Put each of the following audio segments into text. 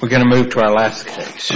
We're going to move to our last case.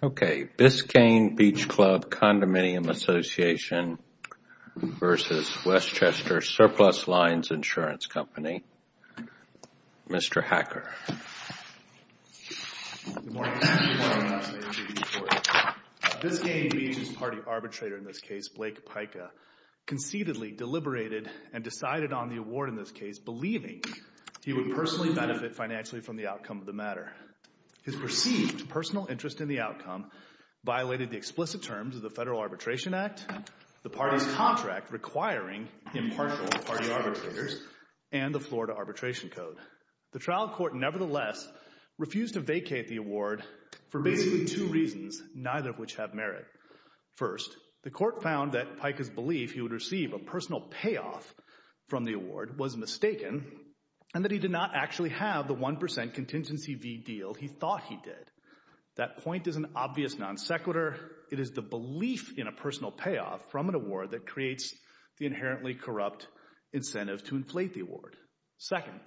Okay, Biscayne Beach Club Condominium Association v. Westchester Surplus Lines Insurance Company. Mr. Hacker. Good morning. Good morning. Nice to meet you. Nice to meet you, too. Good morning. Biscayne Beach's party arbitrator in this case, Blake Pica, conceitedly deliberated and decided on the award in this case, believing he would personally benefit financially from the outcome of the matter. His perceived personal interest in the outcome violated the explicit terms of the Federal Arbitration Act, the party's contract requiring impartial party arbitrators, and the Florida Arbitration Code. The trial court, nevertheless, refused to vacate the award for basically two reasons, neither of which have merit. First, the court found that Pica's belief he would receive a personal payoff from the award was mistaken and that he did not actually have the 1% contingency V deal he thought he did. That point is an obvious non sequitur. It is the belief in a personal payoff from an award that creates the inherently corrupt incentive to inflate the award. Second,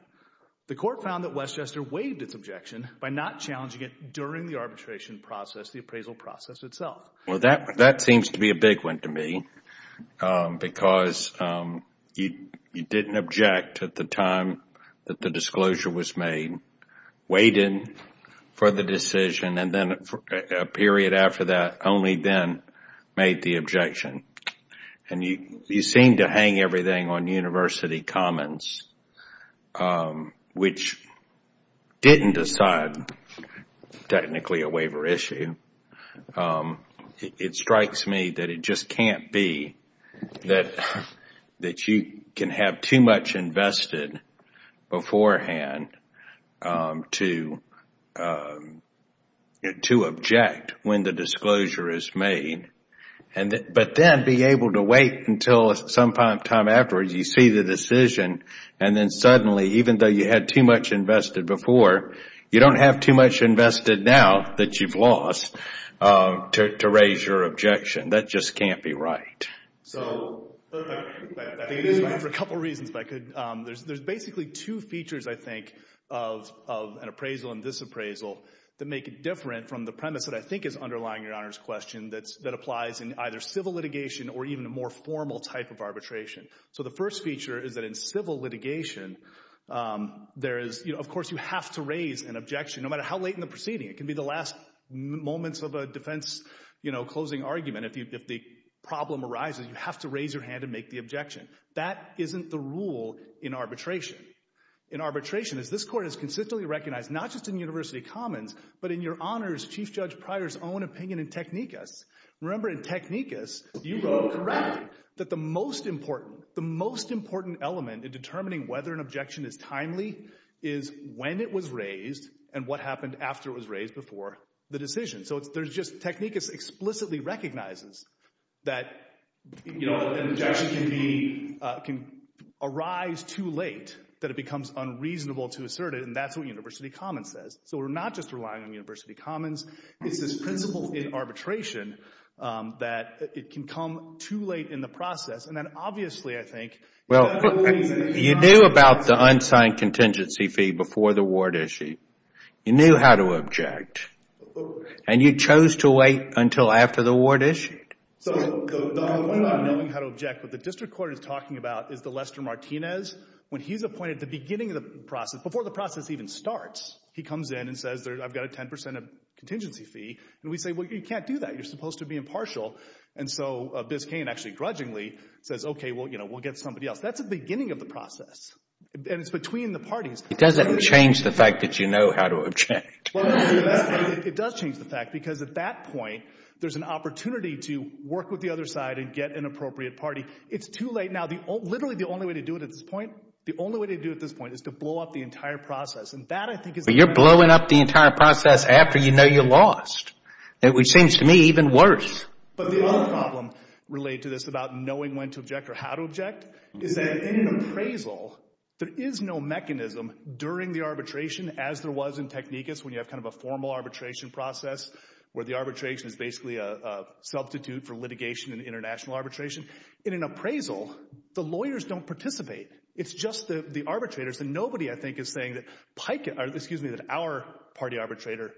the court found that Westchester waived its objection by not challenging it during the arbitration process, the appraisal process itself. Well, that seems to be a big one to me because you didn't object at the time that the disclosure was made, waited for the decision, and then a period after that only then made the objection. And you seem to hang everything on university comments, which didn't decide technically a waiver issue. It strikes me that it just can't be that you can have too much invested beforehand to object when the disclosure is made. But then being able to wait until sometime afterwards, you see the decision, and then suddenly even though you had too much invested before, you don't have too much invested now that you've lost to raise your objection. That just can't be right. So there's basically two features, I think, of an appraisal and disappraisal that make it different from the premise that I think is underlying Your Honor's question that applies in either civil litigation or even a more formal type of arbitration. So the first feature is that in civil litigation, of course you have to raise an objection no matter how late in the proceeding. It can be the last moments of a defense closing argument. If the problem arises, you have to raise your hand and make the objection. That isn't the rule in arbitration. In arbitration, as this court has consistently recognized, not just in university comments, but in Your Honor's, Chief Judge Pryor's own opinion in technicus, remember in technicus, you wrote correctly that the most important element in determining whether an objection is timely is when it was raised and what happened after it was raised before the decision. So technicus explicitly recognizes that an objection can arise too late, that it becomes unreasonable to assert it, and that's what university comments says. So we're not just relying on university comments. It's this principle in arbitration that it can come too late in the process. And then obviously I think— Well, you knew about the unsigned contingency fee before the ward issue. You knew how to object. And you chose to wait until after the ward issue. So the whole point about knowing how to object, what the district court is talking about is the Lester Martinez. When he's appointed at the beginning of the process, before the process even starts, he comes in and says, I've got a 10 percent of contingency fee, and we say, well, you can't do that. You're supposed to be impartial. And so Biscayne actually grudgingly says, OK, well, you know, we'll get somebody else. That's the beginning of the process, and it's between the parties. It doesn't change the fact that you know how to object. It does change the fact, because at that point, there's an opportunity to work with the other side and get an appropriate party. It's too late now. Literally the only way to do it at this point, the only way to do it at this point is to blow up the entire process. But you're blowing up the entire process after you know you lost, which seems to me even worse. But the other problem related to this about knowing when to object or how to object is that in an appraisal, there is no mechanism during the arbitration as there was in technicus when you have kind of a formal arbitration process where the arbitration is basically a substitute for litigation in international arbitration. In an appraisal, the lawyers don't participate. It's just the arbitrators, and nobody, I think, is saying that our party arbitrator,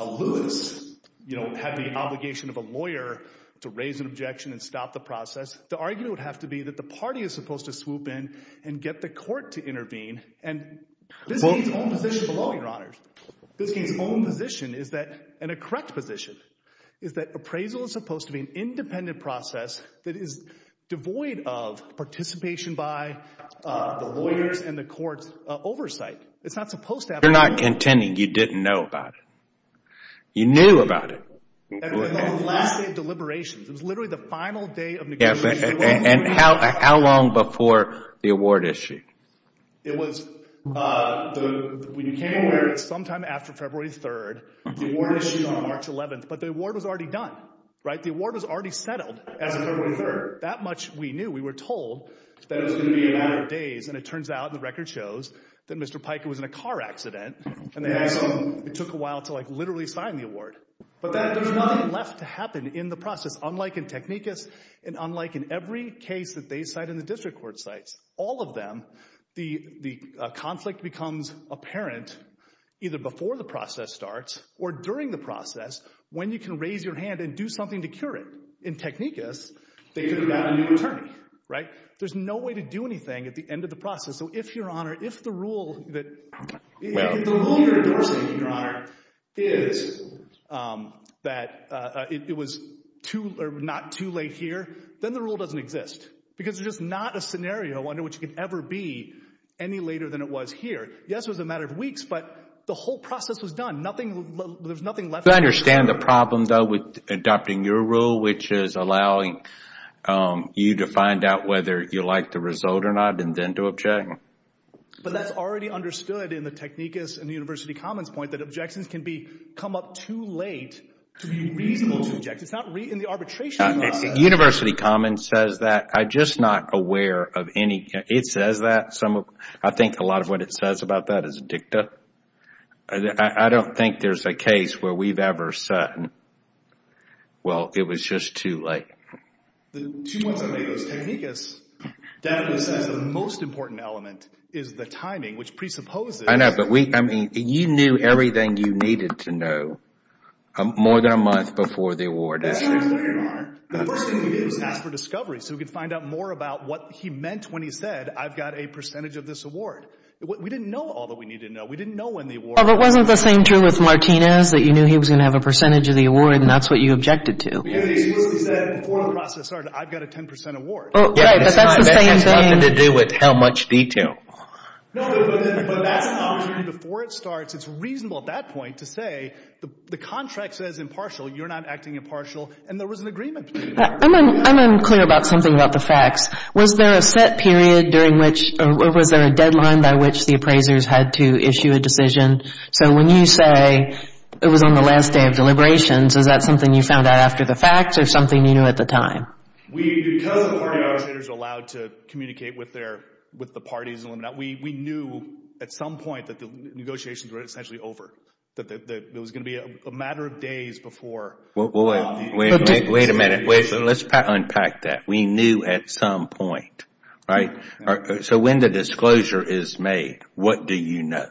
Lewis, you know, had the obligation of a lawyer to raise an objection and stop the process. The argument would have to be that the party is supposed to swoop in and get the court to intervene, and this is his own position below me, Your Honors. This is his own position, and a correct position, is that appraisal is supposed to be an independent process that is devoid of participation by the lawyers and the court's oversight. It's not supposed to happen. You're not contending you didn't know about it. You knew about it. That was the last day of deliberations. It was literally the final day of negotiations. And how long before the award issued? It was, when you became aware, sometime after February 3rd, the award was issued on March 11th. But the award was already done, right? The award was already settled as of February 3rd. That much we knew. We were told that it was going to be a matter of days, and it turns out, and the record shows that Mr. Pica was in a car accident, and it took a while to, like, literally sign the award. But there's nothing left to happen in the process, unlike in Technicus and unlike in every case that they cite and the district court cites. All of them, the conflict becomes apparent either before the process starts or during the process, when you can raise your hand and do something to cure it. In Technicus, they could have gotten you an attorney, right? There's no way to do anything at the end of the process. So if, Your Honor, if the rule that, if the rule you're endorsing, Your Honor, is that it was not too late here, then the rule doesn't exist. Because there's just not a scenario under which it could ever be any later than it was here. Yes, it was a matter of weeks, but the whole process was done. There's nothing left to happen. I understand the problem, though, with adopting your rule, which is allowing you to find out whether you like the result or not, and then to object. But that's already understood in the Technicus and the University Commons point that objections can be, come up too late to be reasonable to object. It's not in the arbitration process. University Commons says that. I'm just not aware of any, it says that, some of, I think a lot of what it says about that is dicta. I don't think there's a case where we've ever said, well, it was just too late. The two months that it was Technicus, that was the most important element, is the timing, which presupposes. I know, but we, I mean, you knew everything you needed to know more than a month before the award. Yes, Your Honor. The first thing we did was ask for discovery so we could find out more about what he meant when he said, I've got a percentage of this award. We didn't know all that we needed to know. Well, but wasn't the same true with Martinez, that you knew he was going to have a percentage of the award and that's what you objected to? We had exclusively said before the process started, I've got a 10% award. Yeah, but that's the same thing. It has nothing to do with how much detail. No, but that's not true. Before it starts, it's reasonable at that point to say, the contract says impartial, you're not acting impartial, and there was an agreement to do that. I'm unclear about something about the facts. Was there a set period during which, or was there a deadline by which the appraisers had to issue a decision? So, when you say, it was on the last day of deliberations, is that something you found out after the facts or something you knew at the time? Because the party negotiators are allowed to communicate with the parties, we knew at some point that the negotiations were essentially over, that it was going to be a matter of days before. Wait a minute. Let's unpack that. We knew at some point, right? So, when the disclosure is made, what do you know?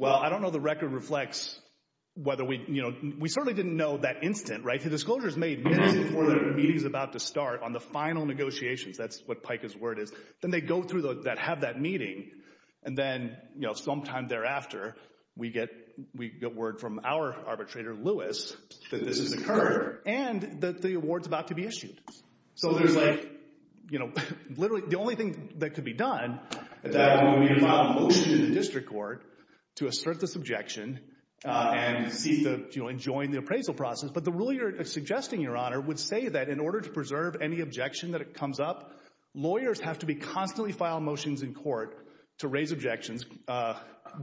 Well, I don't know the record reflects whether we, you know, we certainly didn't know that instant, right? The disclosure is made minutes before the meeting is about to start on the final negotiations. That's what PICA's word is. Then they go through that, have that meeting, and then, you know, sometime thereafter, we get word from our arbitrator, Lewis, that this is occurring, and that the award's about to be issued. So there's like, you know, literally the only thing that could be done at that point would be to file a motion in the district court to assert this objection and join the appraisal process. But the rule you're suggesting, Your Honor, would say that in order to preserve any objection that comes up, lawyers have to constantly file motions in court to raise objections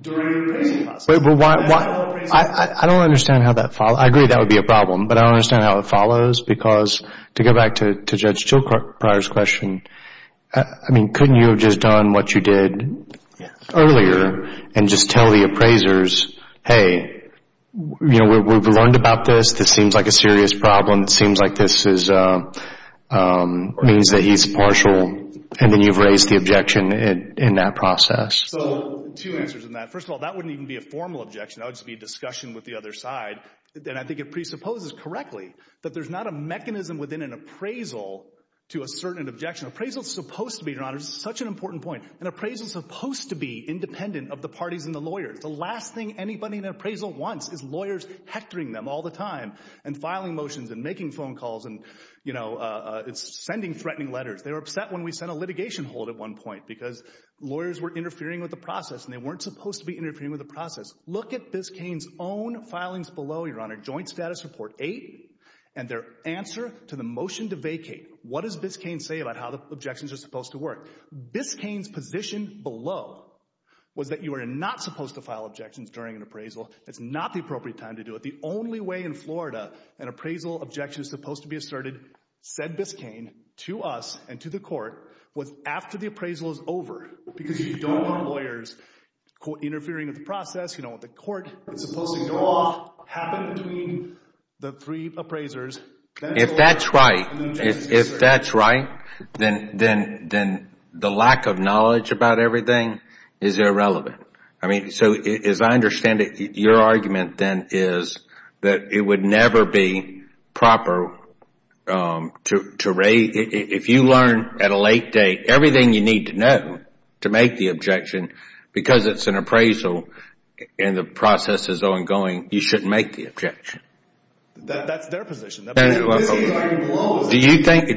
during the appraisal process. I don't understand how that follows. I agree that would be a problem, but I don't understand how it follows because to go back to Judge Jill Pryor's question, I mean, couldn't you have just done what you did earlier and just tell the appraisers, hey, you know, we've learned about this. This seems like a serious problem. It seems like this is, means that he's partial, and then you've raised the objection in that process. So two answers on that. First of all, that wouldn't even be a formal objection. That would just be a discussion with the other side, and I think it presupposes correctly that there's not a mechanism within an appraisal to assert an objection. Appraisal's supposed to be, Your Honor, such an important point, an appraisal's supposed to be independent of the parties and the lawyers. The last thing anybody in an appraisal wants is lawyers hectoring them all the time and filing motions and making phone calls and, you know, sending threatening letters. They were upset when we sent a litigation hold at one point because lawyers were interfering with the process, and they weren't supposed to be interfering with the process. Look at Ms. Cain's own filings below, Your Honor. Joint Status Report 8 and their answer to the motion to vacate. What does Ms. Cain say about how the objections are supposed to work? Ms. Cain's position below was that you are not supposed to file objections during an appraisal. It's not the appropriate time to do it. The only way in Florida an appraisal objection is supposed to be asserted, said Ms. Cain, to us and to the court, was after the appraisal is over because you don't want lawyers interfering with the process. You don't want the court. It's supposed to go off, happen between the three appraisers. If that's right, if that's right, then the lack of knowledge about everything is irrelevant. I mean, so as I understand it, your argument then is that it would never be proper to rate if you learn at a late date everything you need to know to make the objection because it's an appraisal and the process is ongoing. You shouldn't make the objection. That's their position. Ms. Cain's argument below is that... Do you think...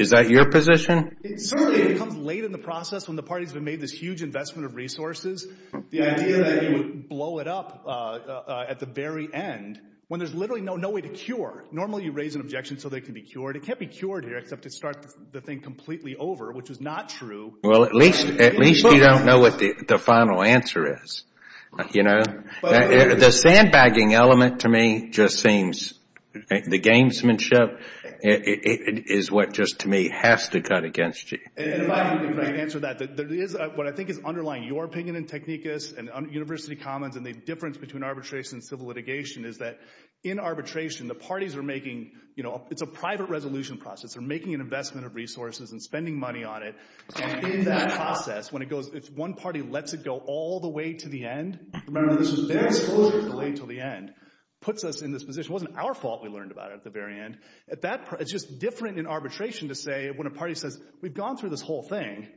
Is that your position? Certainly. It comes late in the process when the party's been made this huge investment of resources. The idea that you would blow it up at the very end when there's literally no way to Normally, you raise an objection so they can be cured. It can't be cured here except to start the thing completely over, which is not true in Well, at least you don't know what the final answer is. The sandbagging element to me just seems... The gamesmanship is what just to me has to cut against you. And if I can answer that, what I think is underlying your opinion in technicus and university commons and the difference between arbitration and civil litigation is that in arbitration, the parties are making... It's a private resolution process. They're making an investment of resources and spending money on it, and in that process, when it goes... It's one party lets it go all the way to the end. Remember, this was their exposure to the late to the end, puts us in this position. It wasn't our fault we learned about it at the very end. At that... It's just different in arbitration to say when a party says, we've gone through this whole thing.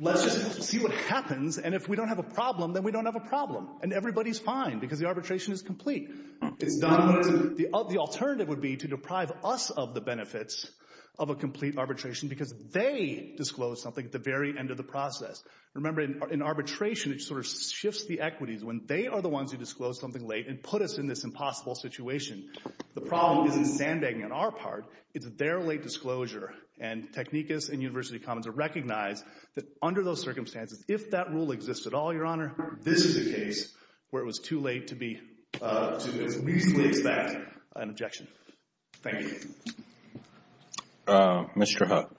Let's just see what happens. And if we don't have a problem, then we don't have a problem and everybody's fine because the arbitration is complete. The alternative would be to deprive us of the benefits of a complete arbitration because they disclosed something at the very end of the process. Remember, in arbitration, it sort of shifts the equities when they are the ones who disclosed something late and put us in this impossible situation. The problem isn't sandbagging on our part. It's their late disclosure and technicus and university commons recognize that under those circumstances, if that rule exists at all, your honor, this is a case where it was too late to be... To as reasonably expect an objection. Thank you. Mr. Huck.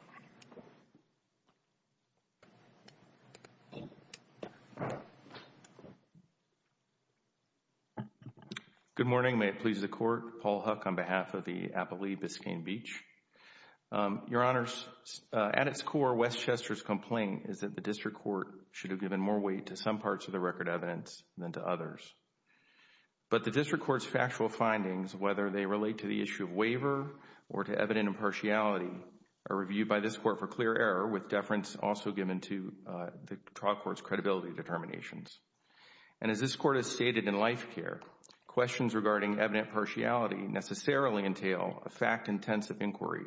Good morning. May it please the court. Paul Huck on behalf of the Appalachian Biscayne Beach. Your honors, at its core, Westchester's complaint is that the district court should have given more weight to some parts of the record evidence than to others. But the district court's factual findings, whether they relate to the issue of waiver or to evident impartiality, are reviewed by this court for clear error with deference also given to the trial court's credibility determinations. And as this court has stated in life care, questions regarding evident impartiality necessarily entail a fact-intensive inquiry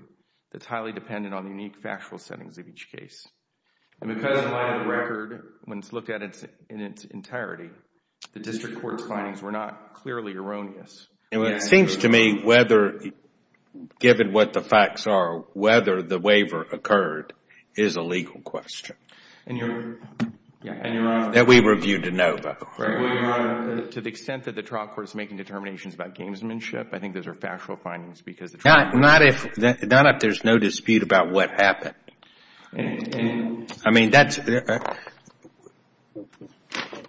that's highly dependent on the unique factual settings of each case. And because in light of the record, when it's looked at in its entirety, the district court's findings were not clearly erroneous. And it seems to me whether, given what the facts are, whether the waiver occurred is a legal question. And your honor... That we reviewed to know that. Your honor, to the extent that the trial court is making determinations about gamesmanship, I think those are factual findings because the trial court... Not if there's no dispute about what happened. I mean,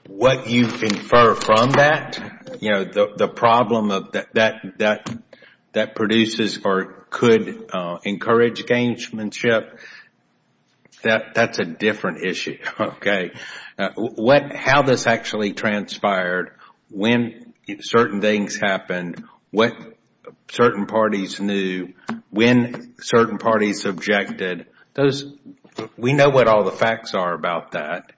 what you infer from that, you know, the problem that produces or could encourage gamesmanship, that's a different issue, okay? How this actually transpired, when certain things happened, what certain parties knew, when certain parties objected, those... We know what all the facts are about that.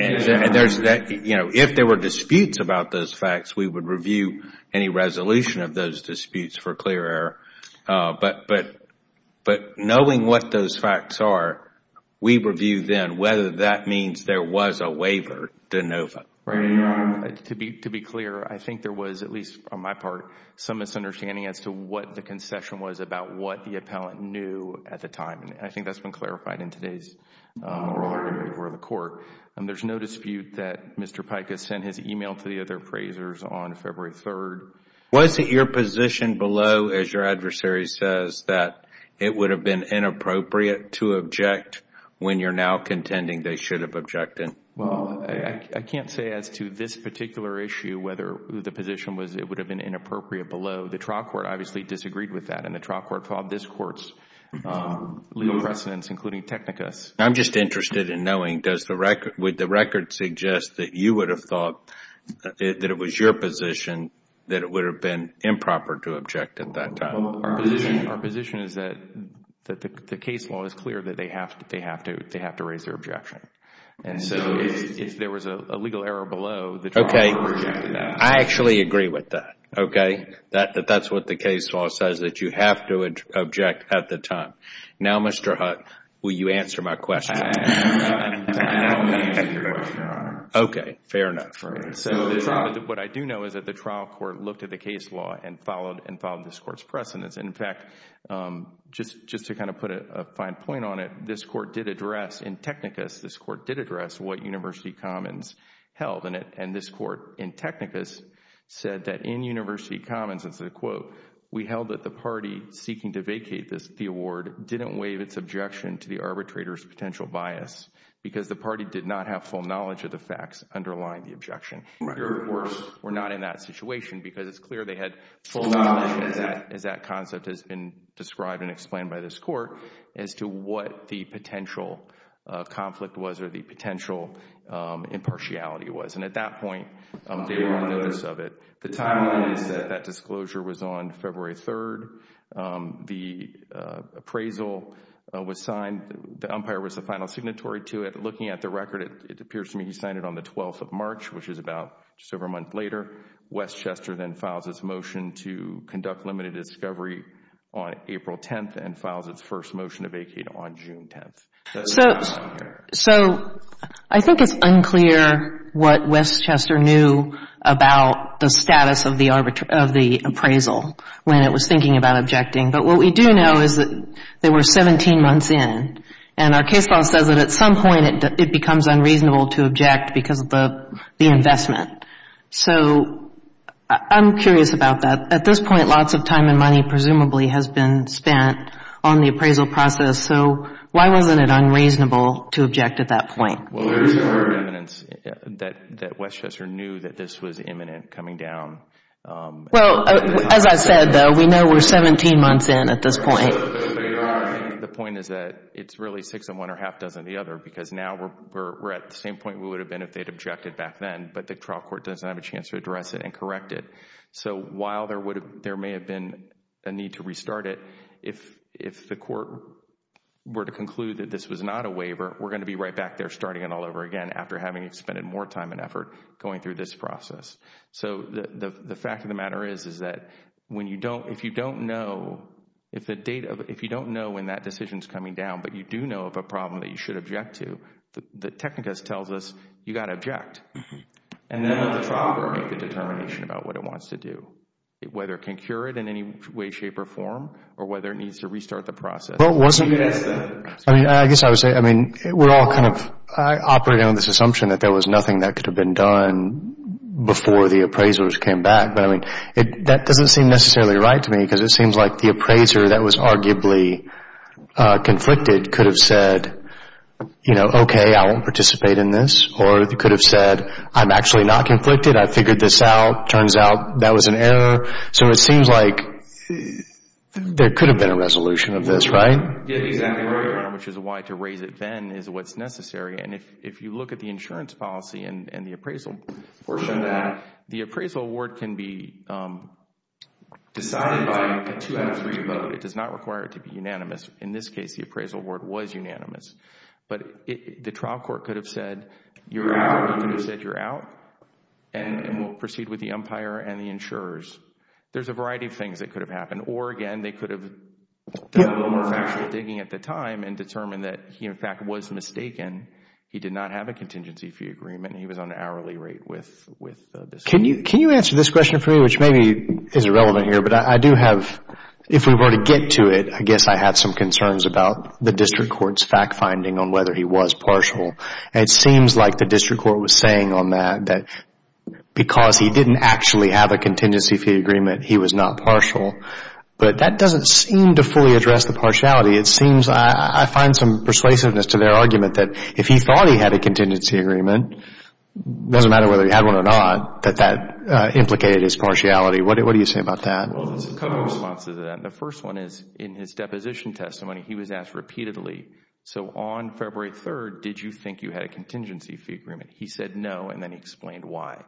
And there's that, you know, if there were disputes about those facts, we would review any resolution of those disputes for clear error. But knowing what those facts are, we review then whether that means there was a waiver de novo. Right. Your honor, to be clear, I think there was, at least on my part, some misunderstanding as to what the concession was about what the appellant knew at the time. And I think that's been clarified in today's ruling in favor of the court. There's no dispute that Mr. Pikus sent his email to the other appraisers on February 3rd. Was it your position below, as your adversary says, that it would have been inappropriate to object when you're now contending they should have objected? Well, I can't say as to this particular issue whether the position was it would have been inappropriate below. The trial court obviously disagreed with that, and the trial court fought this court's legal precedents, including Technicus. I'm just interested in knowing, does the record, would the record suggest that you would have thought that it was your position that it would have been improper to object at that time? Well, our position is that the case law is clear that they have to raise their objection. And so if there was a legal error below, the trial court would have rejected that. I actually agree with that, okay? That's what the case law says, that you have to object at the time. Now Mr. Hutt, will you answer my question? I will answer your question, your honor. Okay, fair enough. What I do know is that the trial court looked at the case law and followed this court's precedents. In fact, just to kind of put a fine point on it, this court did address in Technicus, this court did address what University Commons held, and this court in Technicus said that in University Commons, it's a quote, we held that the party seeking to vacate the award didn't waive its objection to the arbitrator's potential bias because the party did not have full knowledge of the facts underlying the objection. Here, of course, we're not in that situation because it's clear they had full knowledge as that concept has been described and explained by this court as to what the potential conflict was or the potential impartiality was. And at that point, they were on notice of it. The timing is that that disclosure was on February 3rd. The appraisal was signed, the umpire was the final signatory to it. Looking at the record, it appears to me he signed it on the 12th of March, which is about just over a month later. Westchester then files its motion to conduct limited discovery on April 10th and files its first motion to vacate on June 10th. So I think it's unclear what Westchester knew about the status of the appraisal when it was thinking about objecting. But what we do know is that they were 17 months in, and our case law says that at some point it becomes unreasonable to object because of the investment. So I'm curious about that. At this point, lots of time and money presumably has been spent on the appraisal process. So why wasn't it unreasonable to object at that point? Well, there is evidence that Westchester knew that this was imminent coming down. Well, as I said, though, we know we're 17 months in at this point. The point is that it's really six in one or half dozen in the other because now we're at the same point we would have been if they'd objected back then. But the trial court doesn't have a chance to address it and correct it. So while there may have been a need to restart it, if the court were to conclude that this was not a waiver, we're going to be right back there starting it all over again after having expended more time and effort going through this process. So the fact of the matter is that if you don't know when that decision is coming down, but you do know of a problem that you should object to, the technicus tells us you've got to object. And then let the trial court make the determination about what it wants to do, whether it can cure it in any way, shape, or form, or whether it needs to restart the process. I guess I would say, I mean, we're all kind of operating on this assumption that there was nothing that could have been done before the appraisers came back. But, I mean, that doesn't seem necessarily right to me because it seems like the appraiser that was arguably conflicted could have said, you know, okay, I won't participate in this or could have said, I'm actually not conflicted, I've figured this out, turns out that was an error. So it seems like there could have been a resolution of this, right? Yeah, exactly right, which is why to raise it then is what's necessary. And if you look at the insurance policy and the appraisal portion of that, the appraisal award can be decided by a two out of three vote. It does not require it to be unanimous. In this case, the appraisal award was unanimous. But the trial court could have said, you're out, and will proceed with the umpire and the insurers. There's a variety of things that could have happened. Or again, they could have done a little more factual digging at the time and determined that he, in fact, was mistaken. He did not have a contingency fee agreement, he was on an hourly rate with the district. Can you answer this question for me, which maybe is irrelevant here, but I do have, if we were to get to it, I guess I have some concerns about the district court's fact finding on whether he was partial. It seems like the district court was saying on that, that because he didn't actually have a contingency fee agreement, he was not partial. But that doesn't seem to fully address the partiality. I find some persuasiveness to their argument that if he thought he had a contingency agreement, it doesn't matter whether he had one or not, that that implicated his partiality. What do you say about that? Well, there's a couple of responses to that. The first one is, in his deposition testimony, he was asked repeatedly, so on February 3rd, did you think you had a contingency fee agreement? He said no, and then he explained why.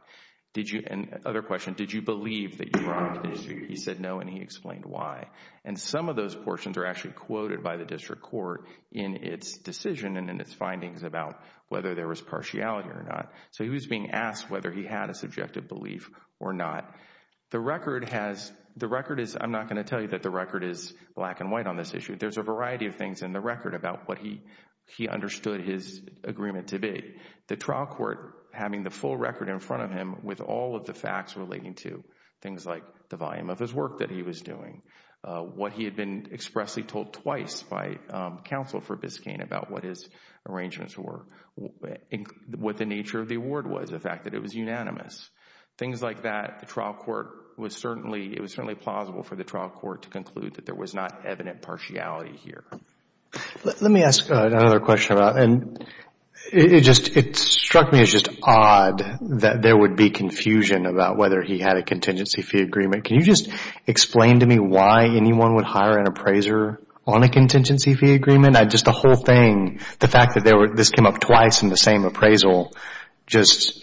Other question, did you believe that you had a contingency fee agreement? He said no, and he explained why. And some of those portions are actually quoted by the district court in its decision and in its findings about whether there was partiality or not. So he was being asked whether he had a subjective belief or not. The record has, the record is, I'm not going to tell you that the record is black and white on this issue. There's a variety of things in the record about what he understood his agreement to be. The trial court having the full record in front of him with all of the facts relating to things like the volume of his work that he was doing. What he had been expressly told twice by counsel for Biscayne about what his arrangements were. What the nature of the award was, the fact that it was unanimous. Things like that, the trial court was certainly, it was certainly plausible for the trial court to conclude that there was not evident partiality here. Let me ask another question about, and it struck me as just odd that there would be confusion about whether he had a contingency fee agreement. Can you just explain to me why anyone would hire an appraiser on a contingency fee agreement? Just the whole thing, the fact that this came up twice in the same appraisal, just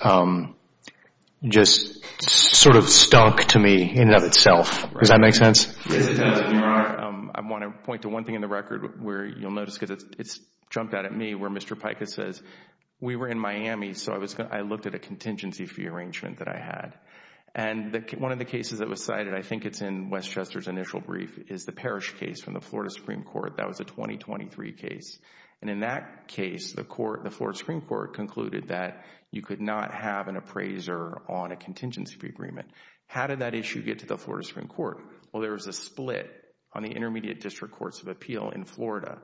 sort of stunk to me in and of itself. Does that make sense? Yes, it does. I want to point to one thing in the record where you'll notice because it's jumped out at me where Mr. Pikus says, we were in Miami so I looked at a contingency fee arrangement that I had and one of the cases that was cited, I think it's in Wes Chester's initial brief, is the Parrish case from the Florida Supreme Court. That was a 2023 case and in that case, the court, the Florida Supreme Court concluded that you could not have an appraiser on a contingency fee agreement. How did that issue get to the Florida Supreme Court? Well, there was a split on the Intermediate District Courts of Appeal in Florida.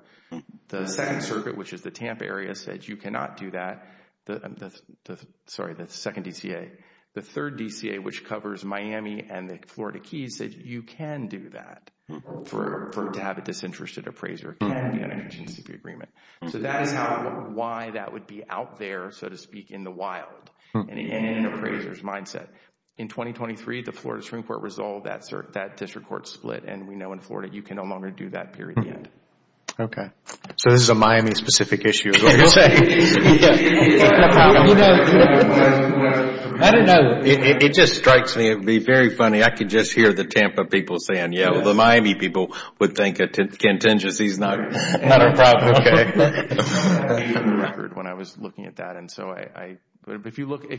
The Second Circuit, which is the Tampa area, said you cannot do that. Sorry, the Second DCA. The Third DCA, which covers Miami and the Florida Keys said you can do that for to have a disinterested appraiser can be on a contingency fee agreement. So that is how, why that would be out there, so to speak, in the wild in an appraiser's In 2023, the Florida Supreme Court resolved that district court split and we know in Florida you can no longer do that period yet. Okay. So this is a Miami-specific issue, is what you're saying. I don't know. It just strikes me. It would be very funny. I could just hear the Tampa people saying, yeah, well, the Miami people would think contingency is not a problem. When I was looking at that and so I, if you look at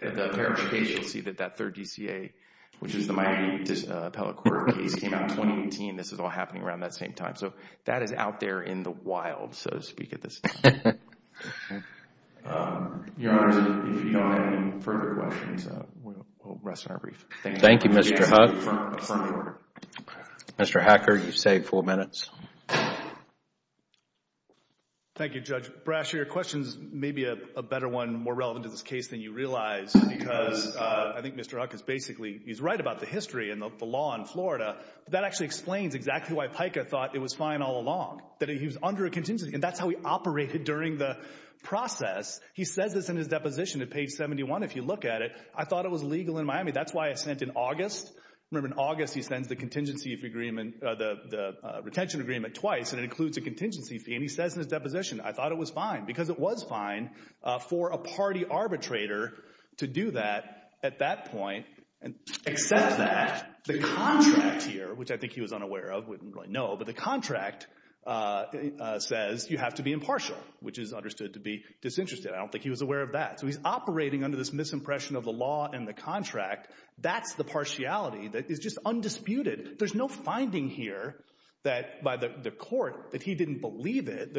the Parrish case, you'll see that that Third DCA, which is the Miami Appellate Court case, came out in 2018. This is all happening around that same time. So that is out there in the wild, so to speak, at this time. Your Honor, if you don't have any further questions, we'll rest on our brief. Thank you, Mr. Huck. Mr. Hacker, you've saved four minutes. Thank you, Judge Brasher. Your question is maybe a better one, more relevant to this case than you realize because I think Mr. Huck is basically, he's right about the history and the law in Florida. That actually explains exactly why Pika thought it was fine all along, that he was under a contingency and that's how he operated during the process. He says this in his deposition at page 71. If you look at it, I thought it was legal in Miami. That's why I sent in August. Remember in August, he sends the contingency agreement, the retention agreement twice and it includes a contingency fee and he says in his deposition, I thought it was fine because it was fine for a party arbitrator to do that at that point and accept that. The contract here, which I think he was unaware of, wouldn't really know, but the contract says you have to be impartial, which is understood to be disinterested. I don't think he was aware of that. So he's operating under this misimpression of the law and the contract. That's the partiality that is just undisputed. There's no finding here that by the court that he didn't believe it.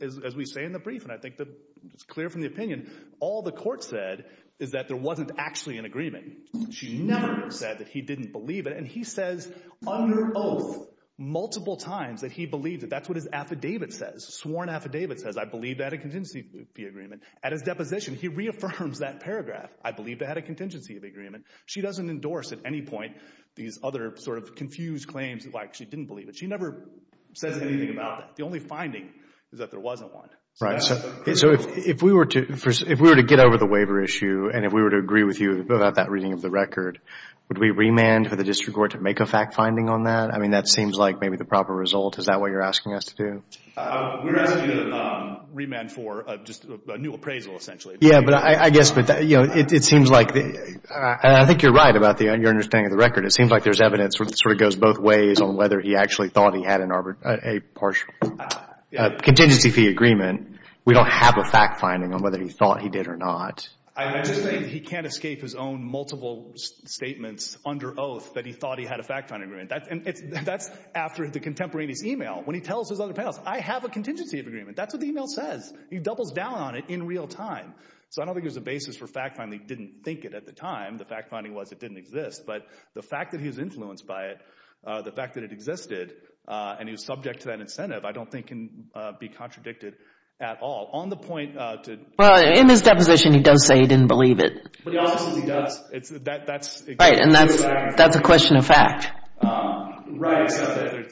As we say in the brief and I think that it's clear from the opinion, all the court said is that there wasn't actually an agreement. She never said that he didn't believe it and he says under oath multiple times that he believes it. That's what his affidavit says, sworn affidavit says, I believe that a contingency fee agreement. At his deposition, he reaffirms that paragraph. I believe that had a contingency of agreement. She doesn't endorse at any point these other sort of confused claims like she didn't believe it. She never says anything about it. The only finding is that there wasn't one. So if we were to get over the waiver issue and if we were to agree with you about that reading of the record, would we remand for the district court to make a fact finding on that? I mean, that seems like maybe the proper result. Is that what you're asking us to do? We're asking you to remand for just a new appraisal essentially. Yeah, but I guess, you know, it seems like, and I think you're right about your understanding of the record. It seems like there's evidence that sort of goes both ways on whether he actually thought he had a partial contingency fee agreement. We don't have a fact finding on whether he thought he did or not. I'm just saying he can't escape his own multiple statements under oath that he thought he had a fact finding agreement. And that's after the contemporaneous email when he tells his other pals, I have a contingency of agreement. That's what the email says. He doubles down on it in real time. So I don't think there's a basis for fact finding he didn't think it at the time. The fact finding was it didn't exist. But the fact that he was influenced by it, the fact that it existed, and he was subject to that incentive, I don't think can be contradicted at all. On the point to... Well, in his deposition, he does say he didn't believe it. But he also says he does. That's... Right, and that's a question of fact. Right.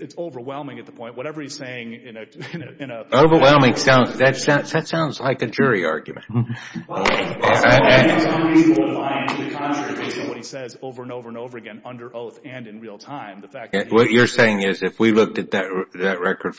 It's overwhelming at the point. Whatever he's saying in a... Overwhelming. That sounds like a jury argument. Well, I think it's unreasonable to lie into the contradiction of what he says over and over and over again under oath and in real time. What you're saying is if we looked at that record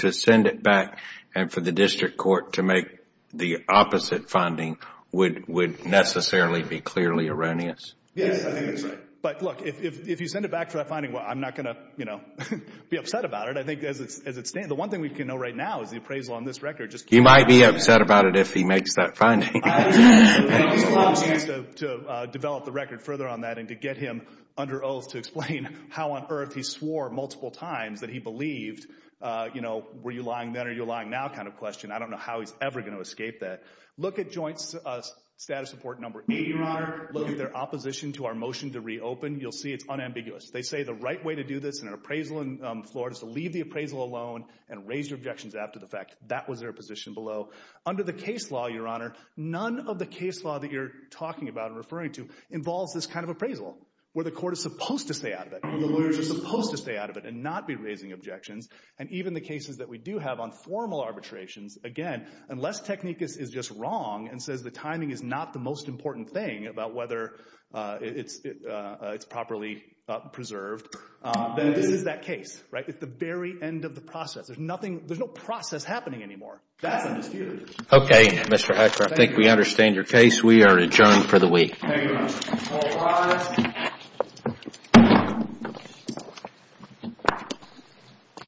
to send it back and for the district court to make the opposite finding would necessarily be clearly erroneous? Yes. I think that's right. But look, if you send it back for that finding, well, I'm not going to be upset about it. I think as it stands, the one thing we can know right now is the appraisal on this record just... He might be upset about it if he makes that finding. It's a lot easier to develop the record further on that and to get him under oath to explain how on earth he swore multiple times that he believed, you know, were you lying then or are you lying now kind of question. I don't know how he's ever going to escape that. Look at joint status report number eight, your honor, look at their opposition to our motion to reopen. You'll see it's unambiguous. They say the right way to do this in an appraisal in Florida is to leave the appraisal alone and raise your objections after the fact. That was their position below. Under the case law, your honor, none of the case law that you're talking about and referring to involves this kind of appraisal where the court is supposed to stay out of it. The lawyers are supposed to stay out of it and not be raising objections. And even the cases that we do have on formal arbitrations, again, unless Technicus is just wrong and says the timing is not the most important thing about whether it's properly preserved, then this is that case, right, at the very end of the process. There's nothing, there's no process happening anymore. That's a mystery. Okay, Mr. Hatcher, I think we understand your case. We are adjourned for the week. Thank you, your honor. All rise.